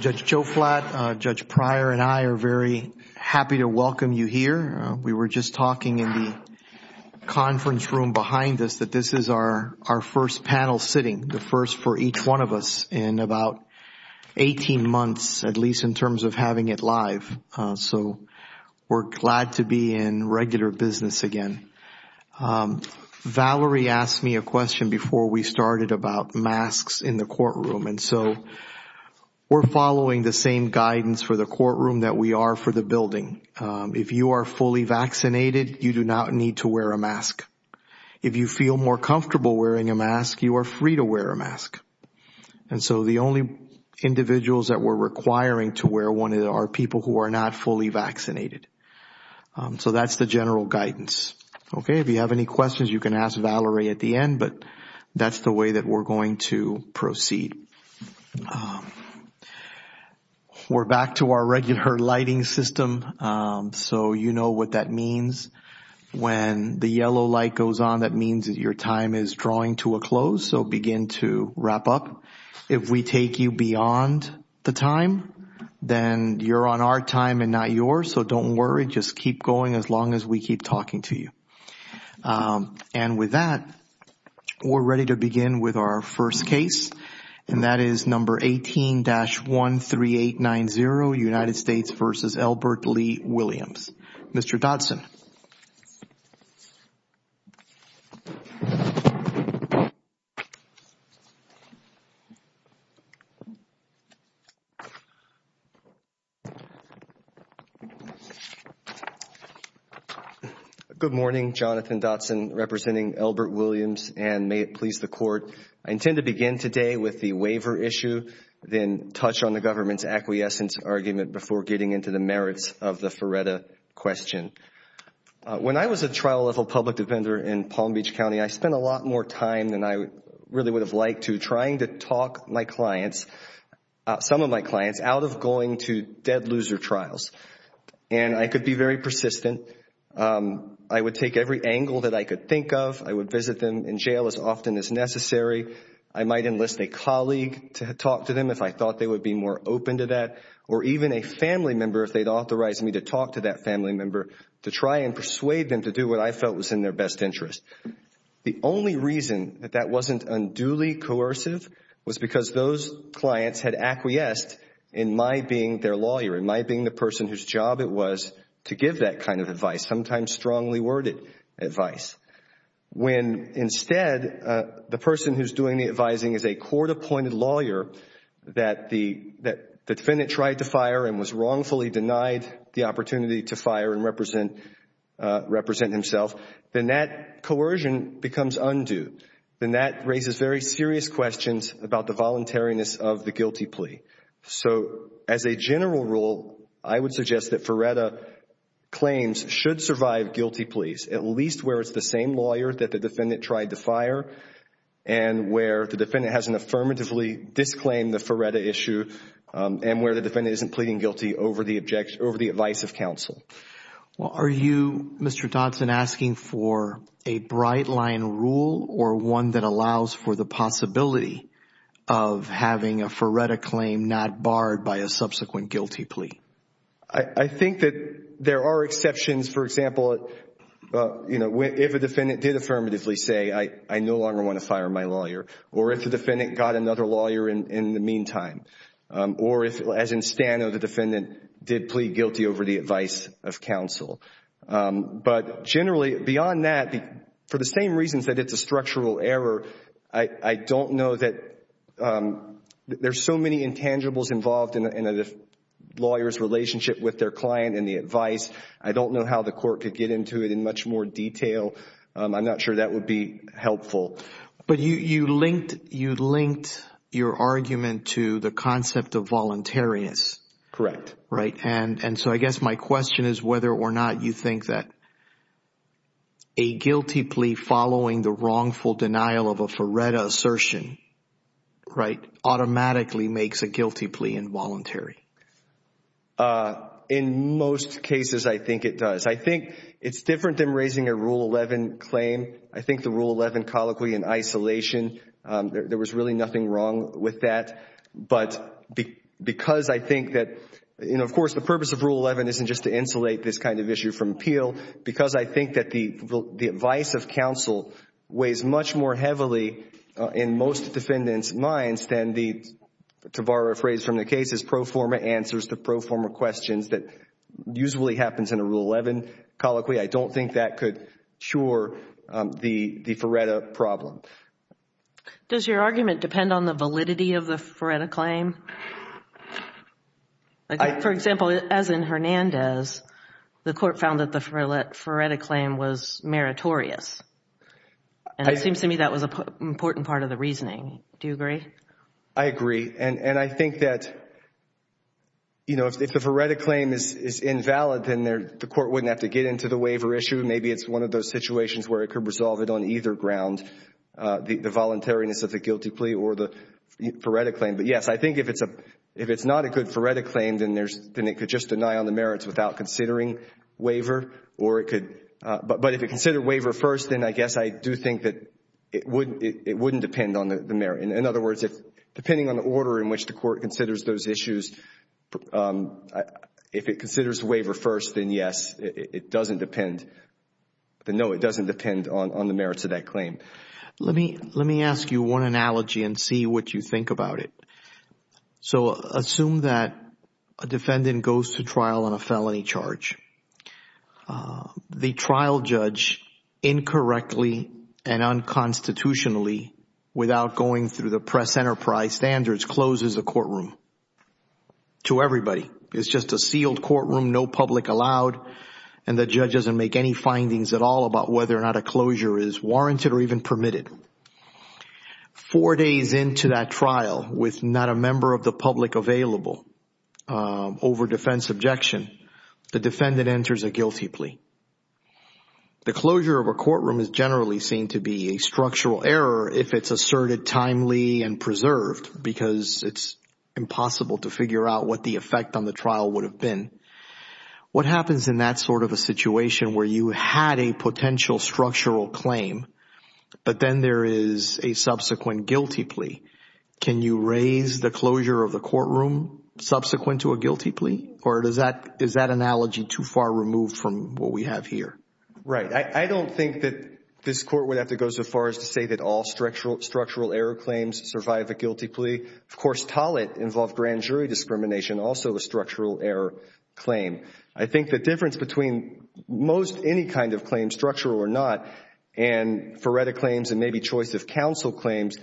Judge Joe Flatt, Judge Pryor and I are very happy to welcome you here. We were just talking in the conference room behind us that this is our first panel sitting, the first for us. We're glad to be in regular business again. Valerie asked me a question before we started about masks in the courtroom. And so we're following the same guidance for the courtroom that we are for the building. If you are fully vaccinated, you do not need to wear a mask. If you feel more comfortable wearing a mask, you are free to wear a mask. And so the only individuals that we're requiring to wear one are people who are not fully vaccinated. So that's the general guidance. Okay, if you have any questions, you can ask Valerie at the end, but that's the way that we're going to proceed. We're back to our regular lighting system. So you know what that means. When the yellow light goes on, that means that your time is drawing to a close. So begin to wrap up. If we take you beyond the time, then you're on our time and not yours. So don't worry. Just keep going as long as we keep talking to you. And with that, we're ready to begin with our first case. And that is number 18-13890, United Good morning. Jonathan Dotson representing Elbert Williams. And may it please the Court, I intend to begin today with the waiver issue, then touch on the government's acquiescence argument before getting into the merits of the FARETA question. When I was a trial level public defender in Palm Beach County, I spent a lot more time than I really would have liked to trying to talk my clients, some of my clients, out of going to dead loser trials. And I could be very persistent. I would take every angle that I could think of. I would visit them in jail as often as necessary. I might enlist a colleague to talk to them if I thought they would be more open to that, or even a family member if they'd authorized me to talk to that family member to try and persuade them to do what I felt was in their best interest. The only reason that that wasn't unduly coercive was because those clients had acquiesced in my being their lawyer, in my being the person whose job it was to give that kind of advice, sometimes strongly worded advice. When instead, the person who's doing the advising is a court appointed lawyer that the defendant tried to fire and was wrongfully denied the opportunity to fire and represent himself, then that coercion becomes undue. Then that raises very serious questions about the voluntariness of the guilty plea. So as a general rule, I would suggest that FREDA claims should survive guilty pleas, at least where it's the same lawyer that the defendant tried to fire and where the defendant hasn't affirmatively disclaimed the FREDA issue and where the defendant isn't pleading guilty over the advice of counsel. Well, are you, Mr. Dodson, asking for a bright line rule or one that allows for the possibility of having a FREDA claim not barred by a subsequent guilty plea? I think that there are exceptions. For example, if a defendant did affirmatively say, I no longer want to fire my lawyer, or if the defendant got another lawyer in the meantime, or as in Stano, the defendant did plead guilty over the advice of counsel. But generally, beyond that, for the same reasons that it's a structural error, I don't know that there's so many intangibles involved in a lawyer's relationship with their client and the advice. I don't know how the court could get into it in much more detail. I'm not sure that would be helpful. But you linked your argument to the concept of voluntariness. Correct. Right. And so I guess my question is whether or not you think that a guilty plea following the wrongful denial of a FREDA assertion, right, automatically makes a guilty plea involuntary. In most cases, I think it does. I think it's different than raising a Rule 11 claim. I think, colloquially, in isolation, there was really nothing wrong with that. But because I think that, you know, of course, the purpose of Rule 11 isn't just to insulate this kind of issue from appeal. Because I think that the advice of counsel weighs much more heavily in most defendants' minds than the, to borrow a phrase from the cases, pro forma answers to pro forma questions that usually happens in a Rule 11 colloquy. I don't think that could cure the FREDA problem. Does your argument depend on the validity of the FREDA claim? For example, as in Hernandez, the court found that the FREDA claim was meritorious. And it seems to me that was an important part of the reasoning. Do you agree? I agree. And I think that, you know, if the FREDA claim is invalid, then the court wouldn't have to get into the waiver issue. Maybe it's one of those situations where it could resolve it on either ground, the voluntariness of the guilty plea or the FREDA claim. But yes, I think if it's a, if it's not a good FREDA claim, then there's, then it could just deny on the merits without considering waiver. Or it could, but if it considered waiver first, then I guess I do think that it wouldn't, it wouldn't depend on the merit. In other words, if, depending on the order in which the court considers those issues, if it considers waiver first, then yes, it doesn't depend, then no, it doesn't depend on the merits of that claim. Let me, let me ask you one analogy and see what you think about it. So assume that a defendant goes to trial on a felony charge. The trial judge incorrectly and unconstitutionally without going through the press enterprise standards closes the courtroom to everybody. It's just a sealed courtroom, no public allowed, and the judge doesn't make any findings at all about whether or not a closure is warranted or even permitted. Four days into that trial with not a member of the public available over defense objection, the defendant enters a guilty plea. The closure of a courtroom is generally seen to be a structural error if it's asserted timely and preserved because it's impossible to figure out what the effect on the trial would have been. What happens in that sort of a situation where you had a potential structural claim, but then there is a subsequent guilty plea? Can you raise the closure of the courtroom subsequent to a guilty plea? Or does that, is that analogy too far removed from what we have here? Right. I, I don't think that this court would have to go so far as to say that all structural, structural error claims survive a guilty plea. Of course, Tollett involved grand jury discrimination, also a structural error claim. I think the difference between most any kind of claim, structural or not, and Ferretta claims and maybe choice of counsel claims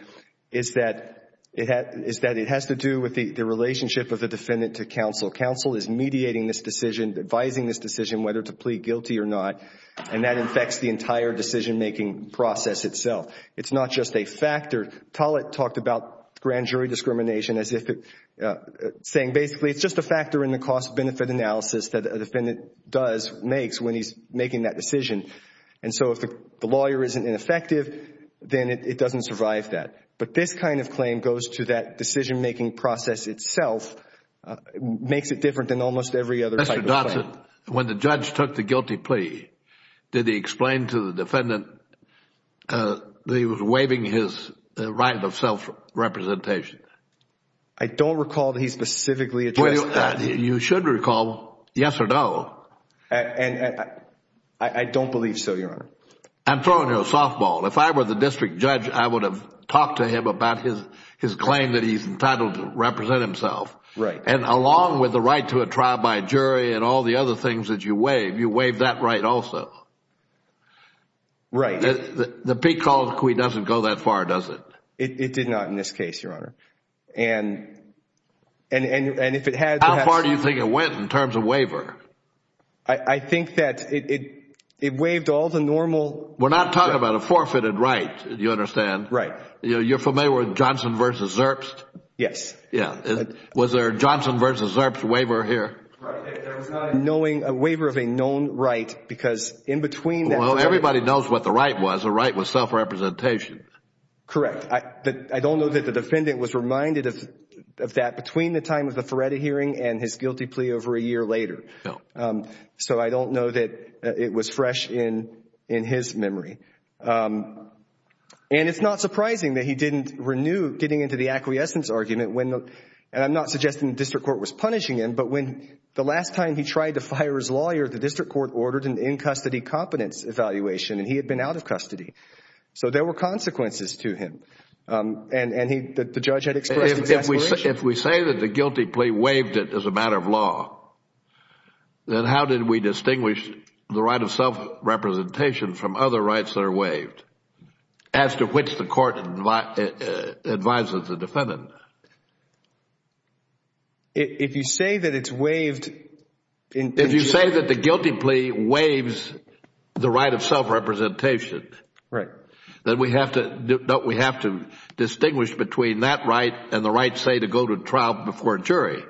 is that, is that it has to do with the relationship of the defendant to counsel. Counsel is mediating this decision, advising this decision whether to plea guilty or not, and that infects the entire decision-making process itself. It's not just a factor. Tollett talked about grand jury discrimination. Basically, it's just a factor in the cost-benefit analysis that a defendant does, makes when he's making that decision. And so if the lawyer isn't ineffective, then it doesn't survive that. But this kind of claim goes to that decision-making process itself, makes it different than almost every other type of claim. Mr. Dodson, when the judge took the guilty plea, did he explain to the defendant that he was waiving his right of self-representation? I don't recall that he specifically addressed that. You should recall, yes or no. I don't believe so, Your Honor. I'm throwing you a softball. If I were the district judge, I would have talked to him about his claim that he's entitled to represent himself. Right. And along with the right to a trial by jury and all the other things that you waive, you waive that right also. Right. The peak call of the quid doesn't go that far, does it? It did not in this case, Your Honor. And if it had to have... How far do you think it went in terms of waiver? I think that it waived all the normal... We're not talking about a forfeited right, you understand? You're familiar with Johnson v. Zerps? Yes. Yeah. Was there a Johnson v. Zerps waiver here? There was not a waiver of a known right because in between that... Well, everybody knows what the right was. The right was self-representation. Correct. I don't know that the defendant was reminded of that between the time of the Feretta hearing and his guilty plea over a year later. So I don't know that it was fresh in his memory. And it's not surprising that he didn't renew getting into the acquiescence argument when... And I'm not suggesting the district court was punishing him, but when the last time he tried to fire his lawyer, the district court ordered an in-custody competence evaluation and he had been out of custody. So there were consequences to him and the judge had expressed exasperation. If we say that the guilty plea waived it as a matter of law, then how did we distinguish the right of self-representation from other rights that are waived as to which the court advises the defendant? If you say that it's waived... If you say that the guilty plea waives the right of self-representation, then we have to distinguish between that right and the right, say, to go to trial before a jury,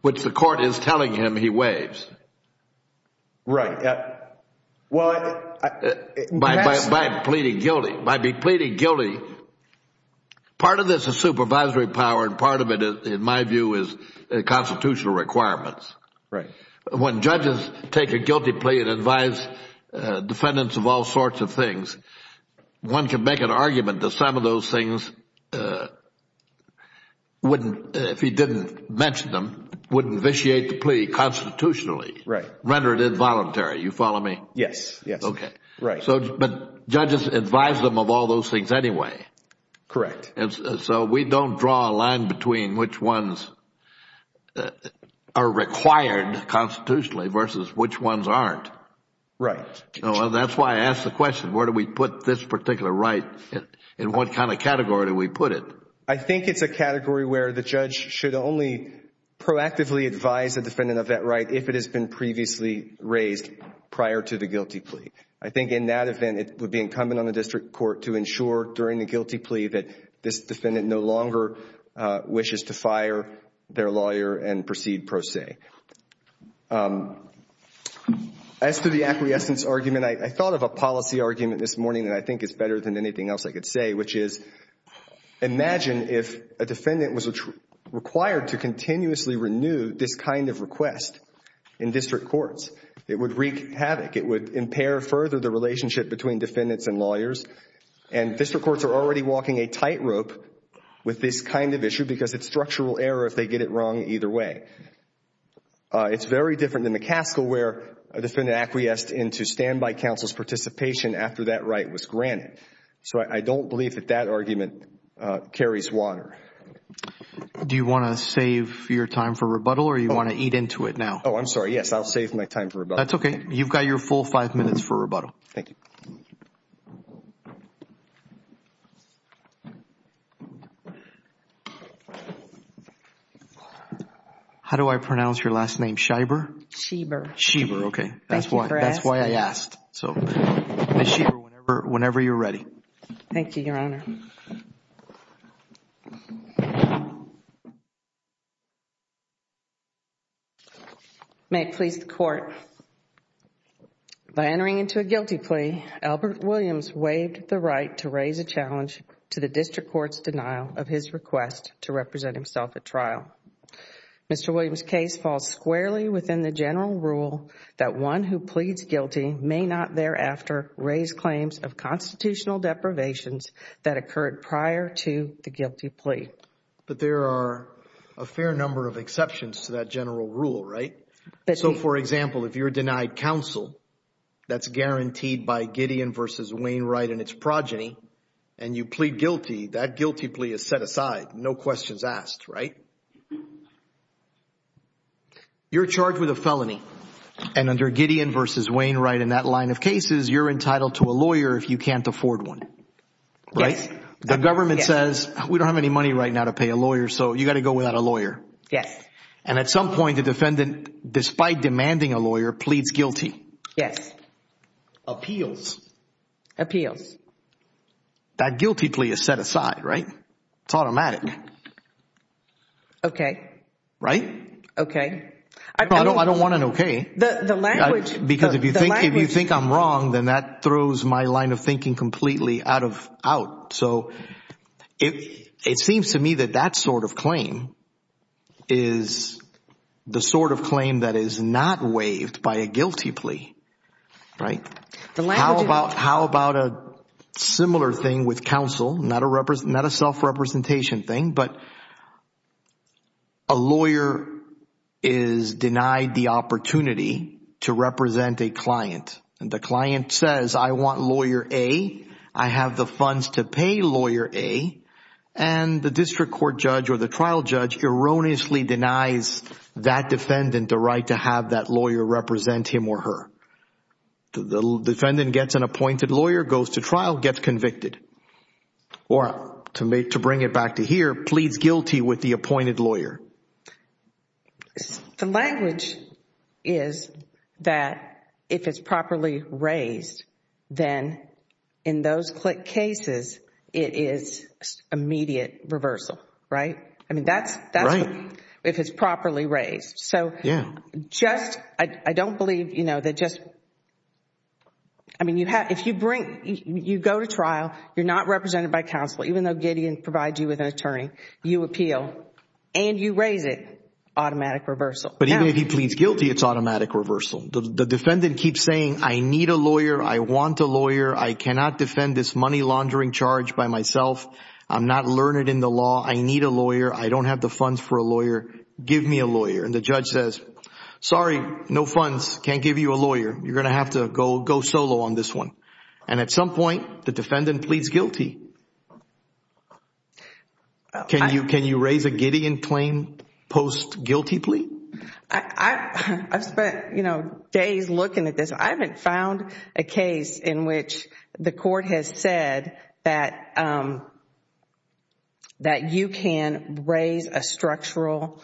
which the court is telling him he waives. Right. Well... By pleading guilty. By pleading guilty, part of this is supervisory power and part of it, in my view, is constitutional requirements. Right. When judges take a guilty plea and advise defendants of all sorts of things, one can make an argument that some of those things wouldn't, if he didn't mention them, wouldn't vitiate the plea constitutionally, render it involuntary. You follow me? Yes. Yes. Okay. Right. But judges advise them of all those things anyway. Correct. We don't draw a line between which ones are required constitutionally versus which ones aren't. Right. That's why I asked the question, where do we put this particular right and what kind of category do we put it? I think it's a category where the judge should only proactively advise the defendant of that right if it has been previously raised prior to the guilty plea. I think in that event, it would be incumbent on the district court to ensure during the hearing that this defendant no longer wishes to fire their lawyer and proceed pro se. As to the acquiescence argument, I thought of a policy argument this morning that I think is better than anything else I could say, which is, imagine if a defendant was required to continuously renew this kind of request in district courts. It would wreak havoc. It would impair further the relationship between defendants and lawyers and district courts are already walking a tightrope with this kind of issue because it's structural error if they get it wrong either way. It's very different than the CASCA where a defendant acquiesced into standby counsel's participation after that right was granted. So I don't believe that that argument carries water. Do you want to save your time for rebuttal or you want to eat into it now? Oh, I'm sorry. Yes, I'll save my time for rebuttal. That's okay. You've got your full five minutes for rebuttal. Thank you. Thank you. How do I pronounce your last name? Shiber? Shiber. Shiber. Okay. Thank you for asking. That's why I asked. So Ms. Shiber, whenever you're ready. Thank you, Your Honor. May it please the Court, by entering into a guilty plea, Albert Williams waived the right to raise a challenge to the district court's denial of his request to represent himself at trial. Mr. Williams' case falls squarely within the general rule that one who pleads guilty may not thereafter raise claims of constitutional deprivations that occurred prior to the guilty plea. But there are a fair number of exceptions to that general rule, right? So for example, if you're denied counsel, that's guaranteed by Gideon v. Wainwright and its progeny, and you plead guilty, that guilty plea is set aside. No questions asked, right? You're charged with a felony, and under Gideon v. Wainwright, in that line of cases, you're entitled to a lawyer if you can't afford one, right? The government says, we don't have any money right now to pay a lawyer, so you got to go without a lawyer. Yes. And at some point, the defendant, despite demanding a lawyer, pleads guilty. Yes. Appeals. Appeals. That guilty plea is set aside, right? It's automatic. Okay. Right? Okay. I don't want an okay, because if you think I'm wrong, then that throws my line of thinking completely out of out. So it seems to me that that sort of claim is the sort of claim that is not waived by a guilty plea, right? How about a similar thing with counsel, not a self-representation thing, but a lawyer is denied the opportunity to represent a client, and the client says, I want lawyer A, I have the funds to pay lawyer A, and the district court judge or the trial judge erroneously denies that defendant the right to have that lawyer represent him or her. The defendant gets an appointed lawyer, goes to trial, gets convicted, or to bring it back to here, pleads guilty with the appointed lawyer. The language is that if it's properly raised, then in those cases, it is immediate reversal, right? I mean, that's... Right. If it's properly raised. So... Yeah. I don't believe, you know, that just... I mean, if you go to trial, you're not represented by counsel, even though Gideon provides you with an attorney, you appeal, and you raise it, automatic reversal. But even if he pleads guilty, it's automatic reversal. The defendant keeps saying, I need a lawyer, I want a lawyer, I cannot defend this money laundering charge by myself, I'm not learned in the law, I need a lawyer, I don't have the funds for a lawyer, give me a lawyer. And the judge says, sorry, no funds, can't give you a lawyer, you're going to have to go solo on this one. And at some point, the defendant pleads guilty. Can you raise a Gideon claim post guilty plea? I've spent, you know, days looking at this, I haven't found a case in which the court has said that you can raise a structural...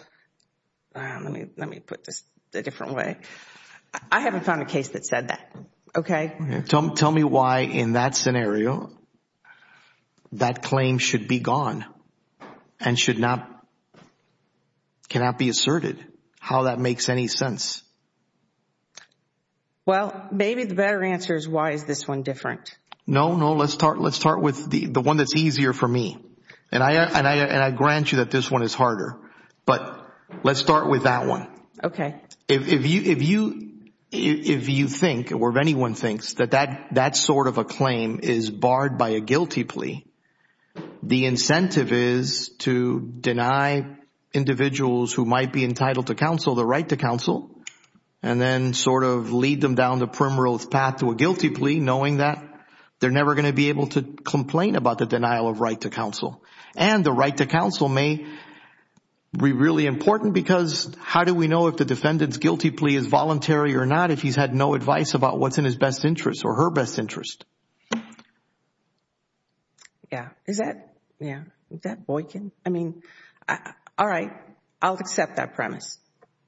let me put this a different way. I haven't found a case that said that, okay? Tell me why, in that scenario, that claim should be gone, and should not... cannot be asserted, how that makes any sense. Well, maybe the better answer is why is this one different? No, no, let's start with the one that's easier for me. And I grant you that this one is harder, but let's start with that one. Okay. If you think, or if anyone thinks, that that sort of a claim is barred by a guilty plea, the incentive is to deny individuals who might be entitled to counsel the right to counsel, and then sort of lead them down the primrose path to a guilty plea, knowing that they're never going to be able to complain about the denial of right to counsel. And the right to counsel may be really important, because how do we know if the defendant's guilty plea is voluntary or not if he's had no advice about what's in his best interest or her best interest? Yeah, is that... yeah, is that Boykin? I mean, all right, I'll accept that premise.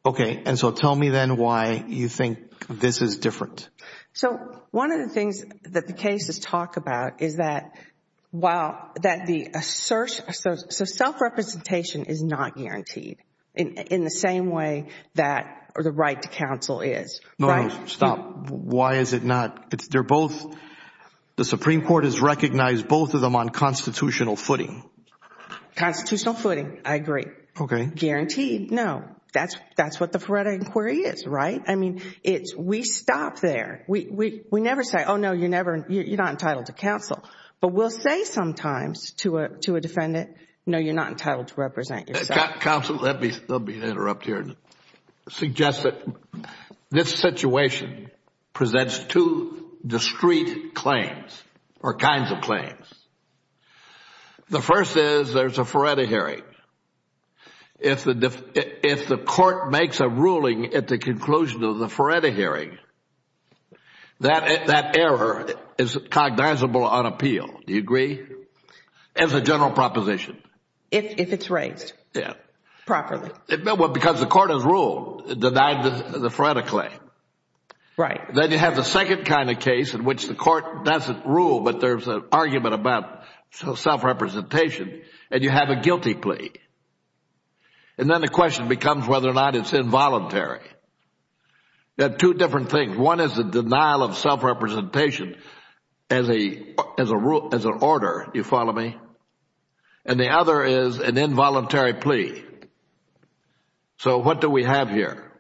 Okay. And so tell me then why you think this is different. So one of the things that the cases talk about is that while... that the... so self-representation is not guaranteed in the same way that the right to counsel is. No, no, stop. Why is it not? They're both... the Supreme Court has recognized both of them on constitutional footing. Constitutional footing, I agree. Okay. Guaranteed? Guaranteed? No. That's what the Feretta Inquiry is, right? I mean, it's... we stop there. We never say, oh, no, you're not entitled to counsel. But we'll say sometimes to a defendant, no, you're not entitled to represent yourself. Counsel, let me... there'll be an interrupt here. Suggest that this situation presents two discrete claims or kinds of claims. The first is there's a Feretta hearing. If the court makes a ruling at the conclusion of the Feretta hearing, that error is cognizable on appeal. Do you agree? As a general proposition. If it's raised. Yeah. Properly. Well, because the court has ruled, denied the Feretta claim. Right. Then you have the second kind of case in which the court doesn't rule, but there's an argument about self-representation, and you have a guilty plea. And then the question becomes whether or not it's involuntary. They're two different things. One is the denial of self-representation as an order, you follow me? And the other is an involuntary plea. So what do we have here?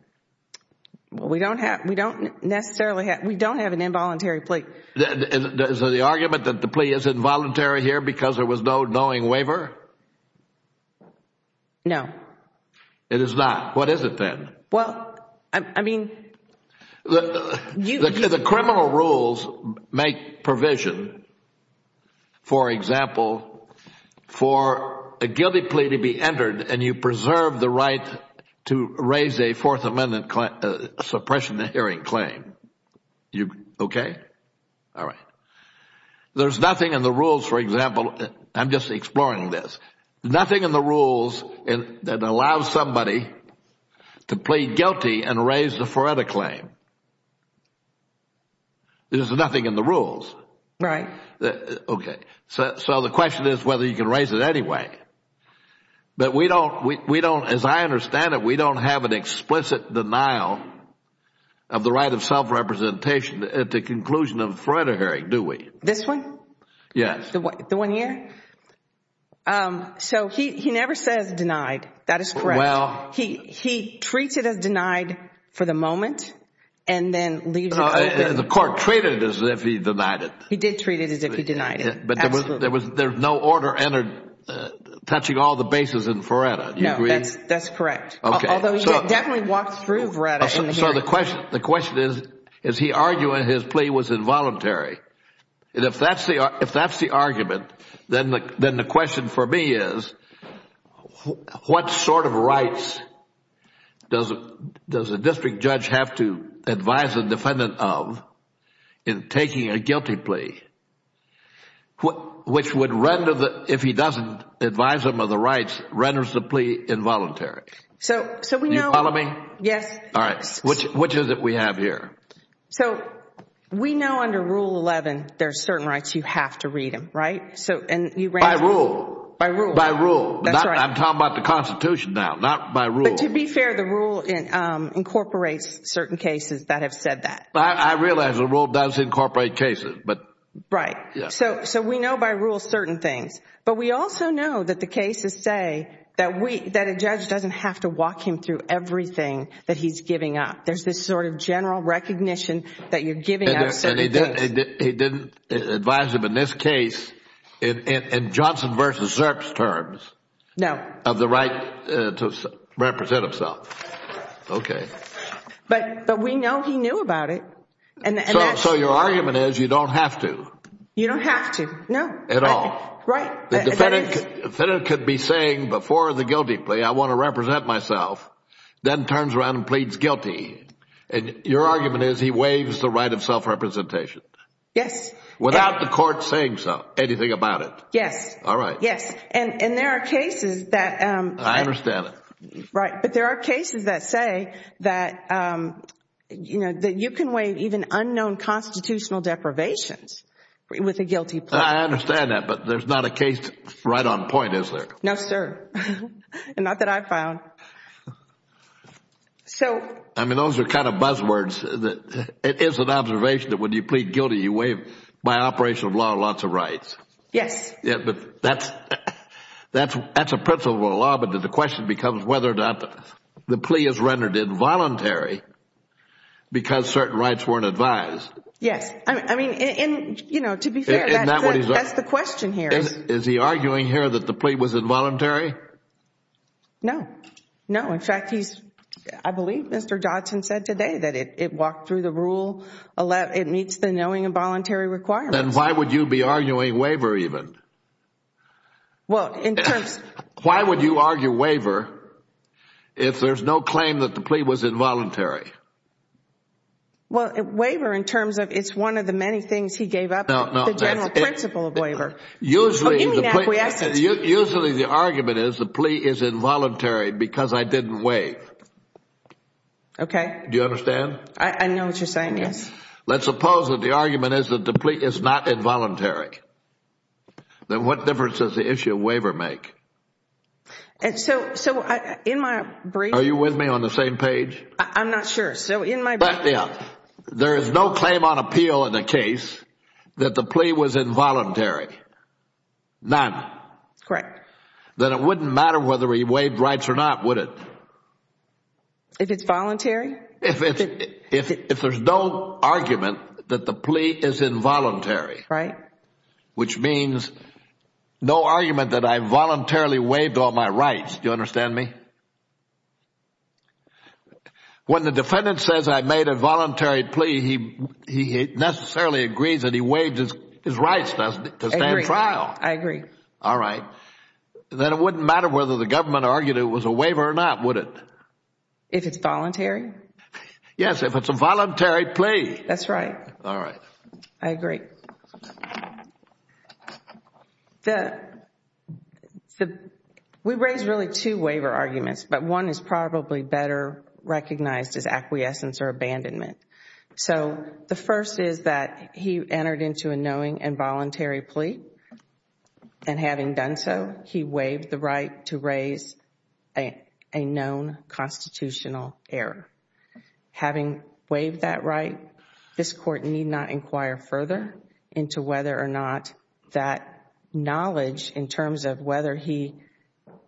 We don't necessarily have... we don't have an involuntary plea. Is there the argument that the plea is involuntary here because there was no knowing waiver? No. It is not. What is it then? Well, I mean... The criminal rules make provision, for example, for a guilty plea to be entered and you preserve the right to raise a Fourth Amendment suppression of the hearing claim. Okay? All right. There's nothing in the rules, for example... I'm just exploring this. Nothing in the rules that allows somebody to plead guilty and raise the Feretta claim. There's nothing in the rules. Right. Okay. So the question is whether you can raise it anyway. But we don't... as I understand it, we don't have an explicit denial of the right of self-representation at the conclusion of a Feretta hearing, do we? This one? Yes. The one here? So he never says denied. That is correct. Well... He treats it as denied for the moment and then leaves it... The court treated it as if he denied it. He did treat it as if he denied it. Absolutely. But there was no order entered touching all the bases in Feretta, do you agree? No. That's correct. Okay. Although he definitely walked through Feretta in the hearing. So the question is, is he arguing his plea was involuntary? If that's the argument, then the question for me is, what sort of rights does a district judge have to advise a defendant of in taking a guilty plea, which would render the... if he doesn't advise him of the rights, renders the plea involuntary? So we know... Do you follow me? Yes. All right. Which is it we have here? So we know under Rule 11, there are certain rights you have to read them, right? So and you... By rule. By rule. By rule. That's right. I'm talking about the Constitution now, not by rule. But to be fair, the rule incorporates certain cases that have said that. I realize the rule does incorporate cases, but... Right. Yeah. So we know by rule certain things, but we also know that the cases say that a judge doesn't have to walk him through everything that he's giving up. There's this sort of general recognition that you're giving up certain things. He didn't advise him in this case, in Johnson versus Zerps terms... No.... of the right to represent himself. Okay. But we know he knew about it, and that's... So your argument is you don't have to. You don't have to. No. At all. Right. The defendant could be saying before the guilty plea, I want to represent myself, then turns around and pleads guilty. Your argument is he waives the right of self-representation. Yes. Without the court saying anything about it. Yes. All right. Yes. And there are cases that... I understand that. Right. But there are cases that say that you can waive even unknown constitutional deprivations with a guilty plea. I understand that. But there's not a case right on point, is there? No, sir. And not that I've found. So... I mean, those are kind of buzzwords. It is an observation that when you plead guilty, you waive, by operation of law, lots of rights. Yes. Yes. But that's a principle of the law, but the question becomes whether or not the plea is rendered involuntary because certain rights weren't advised. Yes. I mean, to be fair... Isn't that what he's arguing? That's the question here. Is he arguing here that the plea was involuntary? No. No. In fact, he's... I believe Mr. Dodson said today that it walked through the rule, it meets the knowing involuntary requirements. Then why would you be arguing waiver even? Well, in terms... Why would you argue waiver if there's no claim that the plea was involuntary? Well, waiver in terms of it's one of the many things he gave up, the general principle No. No. Usually, the plea... I mean, that's what he asked us to do. Usually, the argument is the plea is involuntary because I didn't waive. Okay. Do you understand? I know what you're saying, yes. Let's suppose that the argument is that the plea is not involuntary, then what difference does the issue of waiver make? And so, in my brief... Are you with me on the same page? I'm not sure. So, in my brief... But, yeah. There is no claim on appeal in the case that the plea was involuntary. None. Correct. Then, it wouldn't matter whether he waived rights or not, would it? If it's voluntary? If there's no argument that the plea is involuntary, which means no argument that I voluntarily waived all my rights, do you understand me? Yes. When the defendant says I made a voluntary plea, he necessarily agrees that he waived his rights to stand trial. I agree. All right. Then, it wouldn't matter whether the government argued it was a waiver or not, would it? If it's voluntary? Yes. If it's a voluntary plea. That's right. All right. I agree. We raised really two waiver arguments, but one is probably better recognized as acquiescence or abandonment. So, the first is that he entered into a knowing and voluntary plea, and having done so, he waived the right to raise a known constitutional error. Having waived that right, this court need not inquire further into whether or not that knowledge, in terms of whether he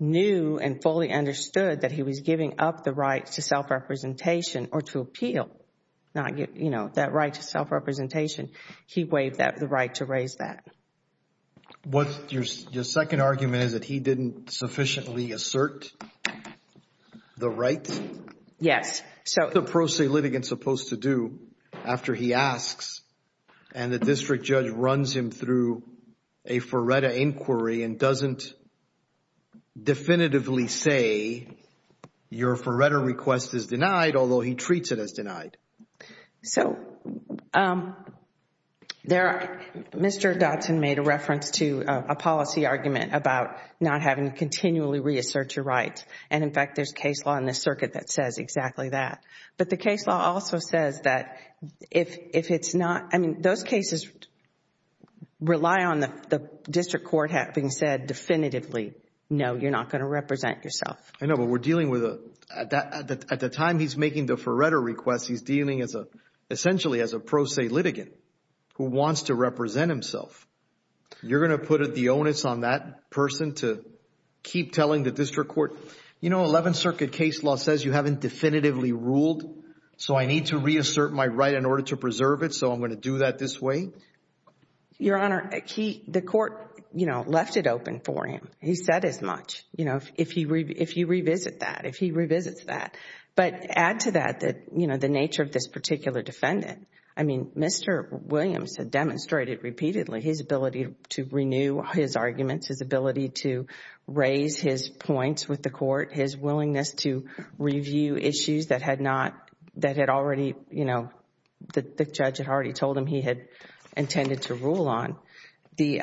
knew and fully understood that he was giving up the right to self-representation or to appeal, that right to self-representation. He waived the right to raise that. Your second argument is that he didn't sufficiently assert the right? Yes. What's a pro se litigant supposed to do after he asks and the district judge runs him through a FERRETA inquiry and doesn't definitively say, your FERRETA request is denied, although he treats it as denied? Mr. Dotson made a reference to a policy argument about not having continually reassert your right, and in fact, there's case law in the circuit that says exactly that. But the case law also says that if it's not, I mean, those cases rely on the district court having said definitively, no, you're not going to represent yourself. I know, but we're dealing with a, at the time he's making the FERRETA request, he's dealing essentially as a pro se litigant who wants to represent himself. You're going to put the onus on that person to keep telling the district court, you know, Eleventh Circuit case law says you haven't definitively ruled, so I need to reassert my right in order to preserve it, so I'm going to do that this way? Your Honor, he, the court, you know, left it open for him. He said as much. You know, if he, if you revisit that, if he revisits that. But add to that that, you know, the nature of this particular defendant, I mean, Mr. Williams had demonstrated repeatedly his ability to renew his arguments, his ability to raise his points with the court, his willingness to review issues that had not, that had already, you know, the judge had already told him he had intended to rule on. The,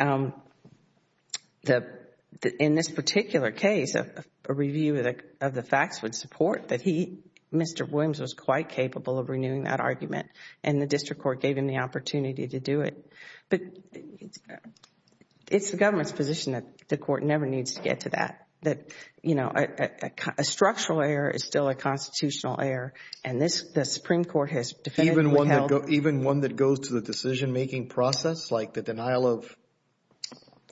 in this particular case, a review of the facts would support that he, Mr. Dotson, in that argument, and the district court gave him the opportunity to do it. But it's the government's position that the court never needs to get to that, that, you know, a structural error is still a constitutional error, and this, the Supreme Court has definitively held. Even one that goes to the decision making process, like the denial of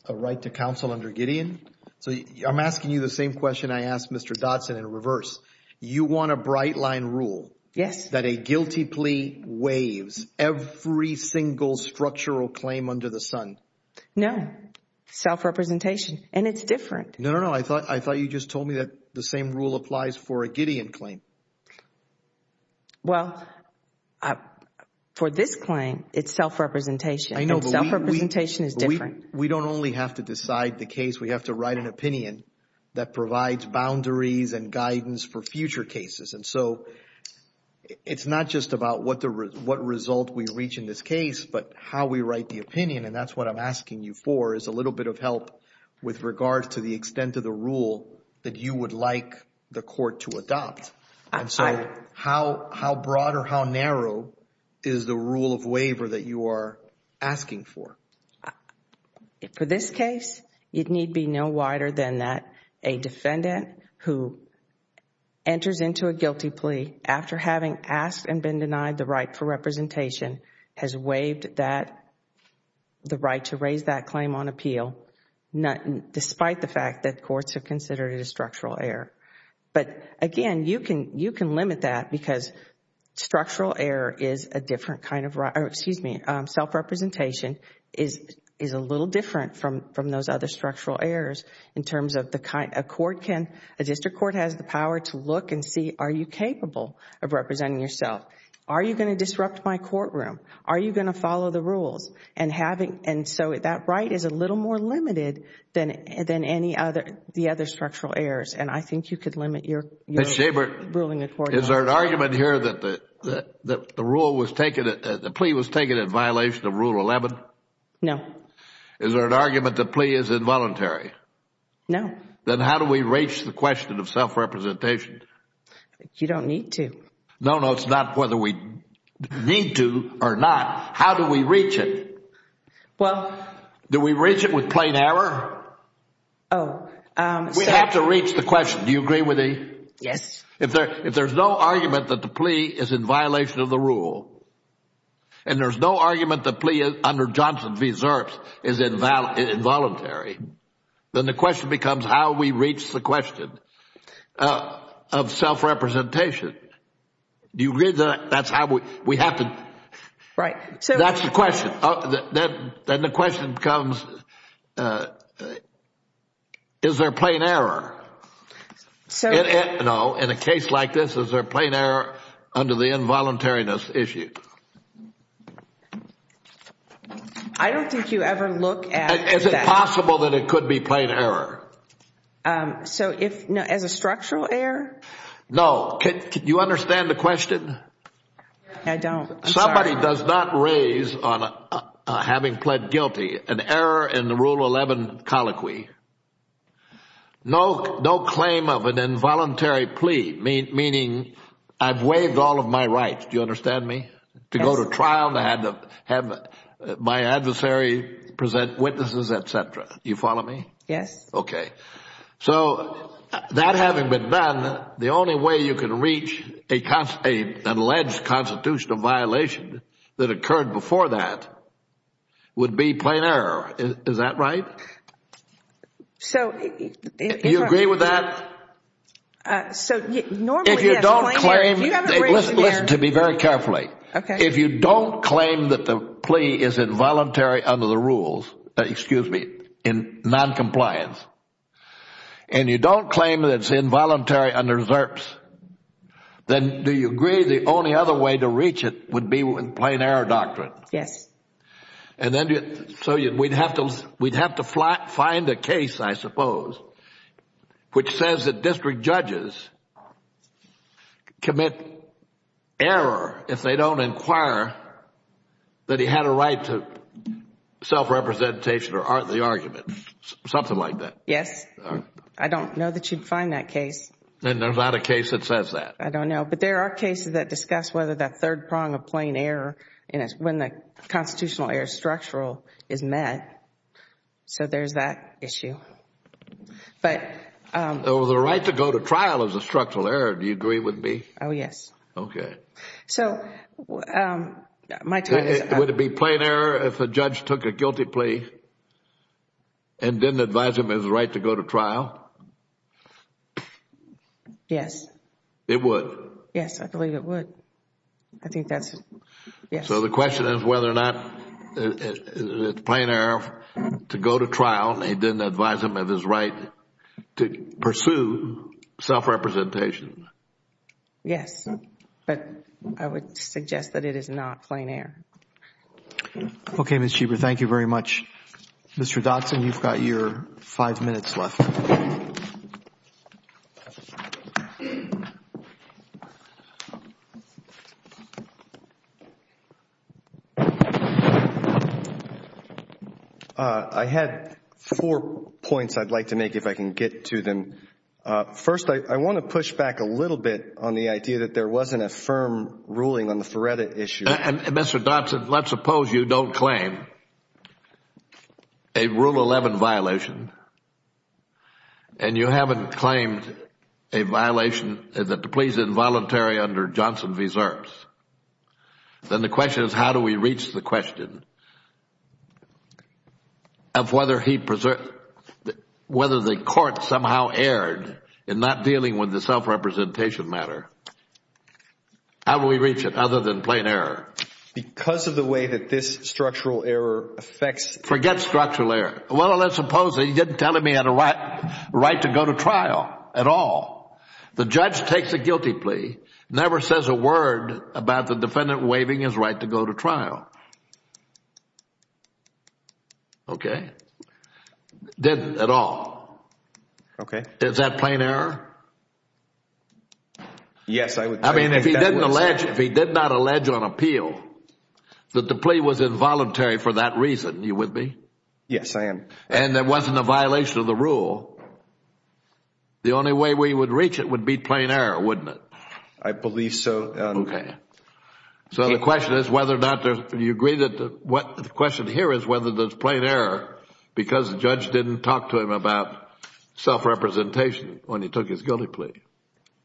a right to counsel under Gideon? So I'm asking you the same question I asked Mr. Dotson in reverse. You want a bright line rule. Yes. That a guilty plea waives every single structural claim under the sun. No. Self-representation. And it's different. No, no, no. I thought, I thought you just told me that the same rule applies for a Gideon claim. Well, for this claim, it's self-representation. I know. Self-representation is different. We don't only have to decide the case. We have to write an opinion that provides boundaries and guidance for future cases. And so, it's not just about what result we reach in this case, but how we write the opinion, and that's what I'm asking you for, is a little bit of help with regards to the extent of the rule that you would like the court to adopt. And so, how broad or how narrow is the rule of waiver that you are asking for? For this case, it need be no wider than that. A defendant who enters into a guilty plea after having asked and been denied the right for representation has waived that, the right to raise that claim on appeal, despite the fact that courts have considered it a structural error. But again, you can limit that because structural error is a different kind of, self-representation is a little different from those other structural errors in terms of the kind, a court can, a district court has the power to look and see, are you capable of representing yourself? Are you going to disrupt my courtroom? Are you going to follow the rules? And so, that right is a little more limited than any other, the other structural errors. And I think you could limit your ruling accordingly. Is there an argument here that the rule was taken, the plea was taken in violation of Rule 11? No. Is there an argument that the plea is involuntary? No. Then how do we reach the question of self-representation? You don't need to. No, no, it's not whether we need to or not. How do we reach it? Well. Do we reach it with plain error? Oh. We have to reach the question. Do you agree with me? Yes. If there's no argument that the plea is in violation of the rule, and there's no argument that the plea under Johnson v. Zerps is involuntary, then the question becomes how we reach the question of self-representation. Do you agree that that's how we, we have to. Right. That's the question. Then the question becomes, is there plain error? So. No. In a case like this, is there plain error under the involuntariness issue? I don't think you ever look at. Is it possible that it could be plain error? So if, as a structural error? No. Can you understand the question? I don't. I'm sorry. Somebody does not raise on having pled guilty an error in the Rule 11 colloquy. No claim of an involuntary plea, meaning I've waived all of my rights. Do you understand me? Yes. To go to trial, to have my adversary present witnesses, et cetera. You follow me? Yes. Okay. So that having been done, the only way you can reach an alleged constitutional violation that occurred before that would be plain error. Is that right? So. Do you agree with that? So normally, yes. If you don't claim. If you haven't raised an error. Listen to me very carefully. Okay. If you don't claim that the plea is involuntary under the rules, excuse me, in noncompliance, and you don't claim that it's involuntary under SRPS, then do you agree the only other way to reach it would be with plain error doctrine? Yes. So we'd have to find a case, I suppose, which says that district judges commit error if they don't inquire that he had a right to self-representation or the argument. Something like that. Yes. I don't know that you'd find that case. And there's not a case that says that. I don't know. But there are cases that discuss whether that third prong of plain error when the constitutional error is structural is met. So there's that issue. But. The right to go to trial is a structural error, do you agree with me? Oh, yes. Okay. So. Would it be plain error if a judge took a guilty plea and didn't advise him his right to go to trial? Yes. It would? Yes. I believe it would. I think that's. Yes. So the question is whether or not it's plain error to go to trial and didn't advise him of his right to pursue self-representation. Yes. But I would suggest that it is not plain error. Okay, Ms. Schieber, thank you very much. Mr. Dotson, you've got your five minutes left. I had four points I'd like to make if I can get to them. First, I want to push back a little bit on the idea that there wasn't a firm ruling on the Feretta issue. Mr. Dotson, let's suppose you don't claim a Rule 11 violation and you haven't claimed a violation of the pleas involuntary under Johnson v. Zerps. Then the question is how do we reach the question of whether the court somehow erred in not dealing with the self-representation matter? How do we reach it other than plain error? Because of the way that this structural error affects. Forget structural error. Well, let's suppose that he didn't tell him he had a right to go to trial at all. The judge takes a guilty plea, never says a word about the defendant waiving his right to go to trial, okay? Didn't at all. Okay. Is that plain error? Yes, I would say that. I mean, if he did not allege on appeal that the plea was involuntary for that reason, are you with me? Yes, I am. And there wasn't a violation of the rule. The only way we would reach it would be plain error, wouldn't it? I believe so. Okay. So the question is whether or not there's, do you agree that the question here is whether there's plain error because the judge didn't talk to him about self-representation when he took his guilty plea?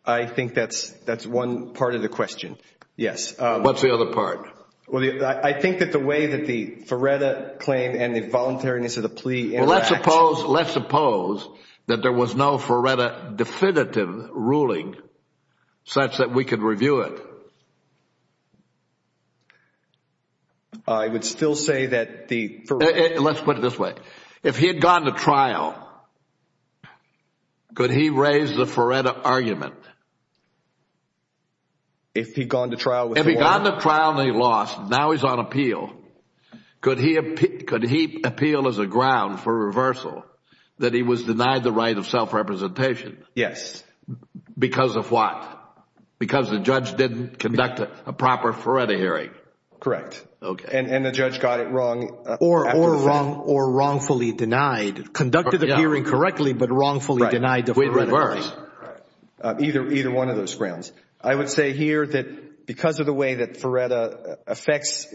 I think that's one part of the question, yes. What's the other part? Well, I think that the way that the Feretta claim and the voluntariness of the plea interact. Well, let's suppose, let's suppose that there was no Feretta definitive ruling such that we could review it. I would still say that the- Let's put it this way. If he had gone to trial, could he raise the Feretta argument? If he'd gone to trial with- If he'd gone to trial and he lost, now he's on appeal, could he appeal as a ground for reversal that he was denied the right of self-representation? Yes. Because of what? Because the judge didn't conduct a proper Feretta hearing? Correct. Okay. And the judge got it wrong. Or wrongfully denied. Conducted the hearing correctly, but wrongfully denied the Feretta hearing. With reverse. Either one of those grounds. I would say here that because of the way that Feretta affects,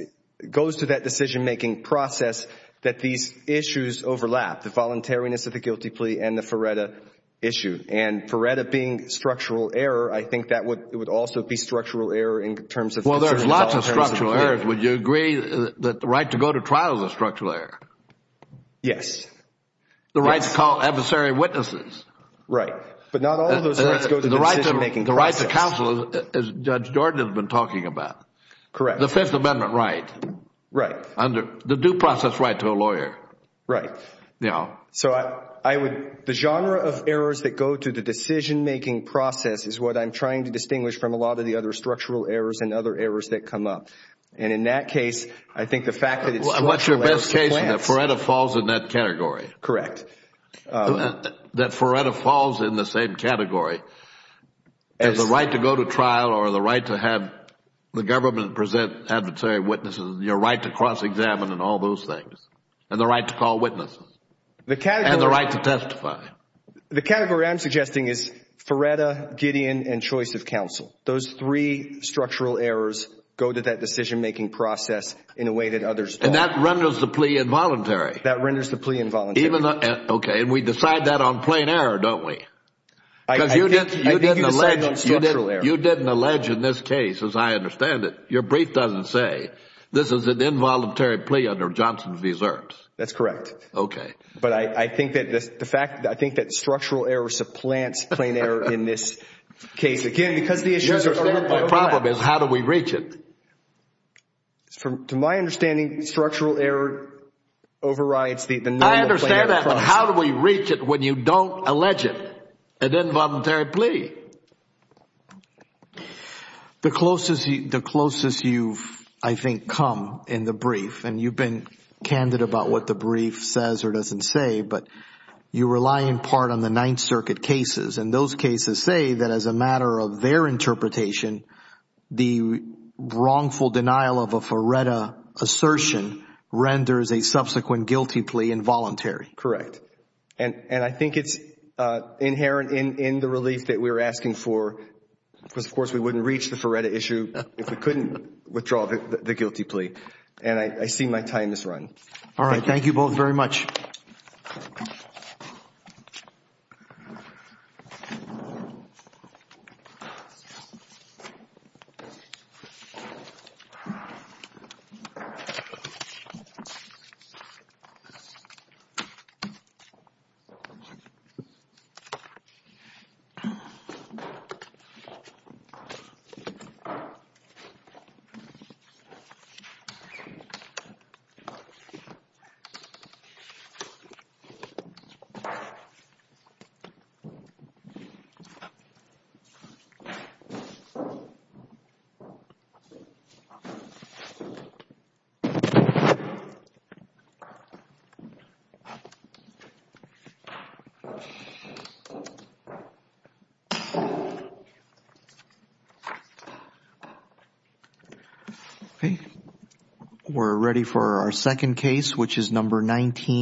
goes to that decision-making process, that these issues overlap. The voluntariness of the guilty plea and the Feretta issue. And Feretta being structural error, I think that would also be structural error in terms of- Well, there's lots of structural errors. Would you agree that the right to go to trial is a structural error? Yes. The right to call adversary witnesses. Right. But not all of those rights go to the decision-making process. The right to counsel, as Judge Jordan has been talking about. Correct. The Fifth Amendment right. Right. The due process right to a lawyer. Right. You know. So I would, the genre of errors that go to the decision-making process is what I'm trying to distinguish from a lot of the other structural errors and other errors that come up. And in that case, I think the fact that it's- What's your best case that Feretta falls in that category? Correct. That Feretta falls in the same category as the right to go to trial or the right to have the government present adversary witnesses. Your right to cross-examine and all those things. And the right to call witnesses. And the right to testify. The category I'm suggesting is Feretta, Gideon, and choice of counsel. Those three structural errors go to that decision-making process in a way that others don't. And that renders the plea involuntary. That renders the plea involuntary. Okay. And we decide that on plain error, don't we? Because you didn't- I think you decide on structural error. You didn't allege in this case, as I understand it, your brief doesn't say, this is an involuntary plea under Johnson's reserves. That's correct. Okay. But I think that the fact, I think that structural error supplants plain error in this case. Again, because the issues are- My problem is how do we reach it? To my understanding, structural error overrides the- I understand that. But how do we reach it when you don't allege it? An involuntary plea. The closest you've, I think, come in the brief, and you've been candid about what the brief says or doesn't say, but you rely in part on the Ninth Circuit cases. And those cases say that as a matter of their interpretation, the wrongful denial of a Feretta assertion renders a subsequent guilty plea involuntary. Correct. And I think it's inherent in the relief that we're asking for because, of course, we wouldn't reach the Feretta issue if we couldn't withdraw the guilty plea. And I see my time is run. All right. Thank you both very much. Thank you. Thank you. We're ready for our second case, which is number 19.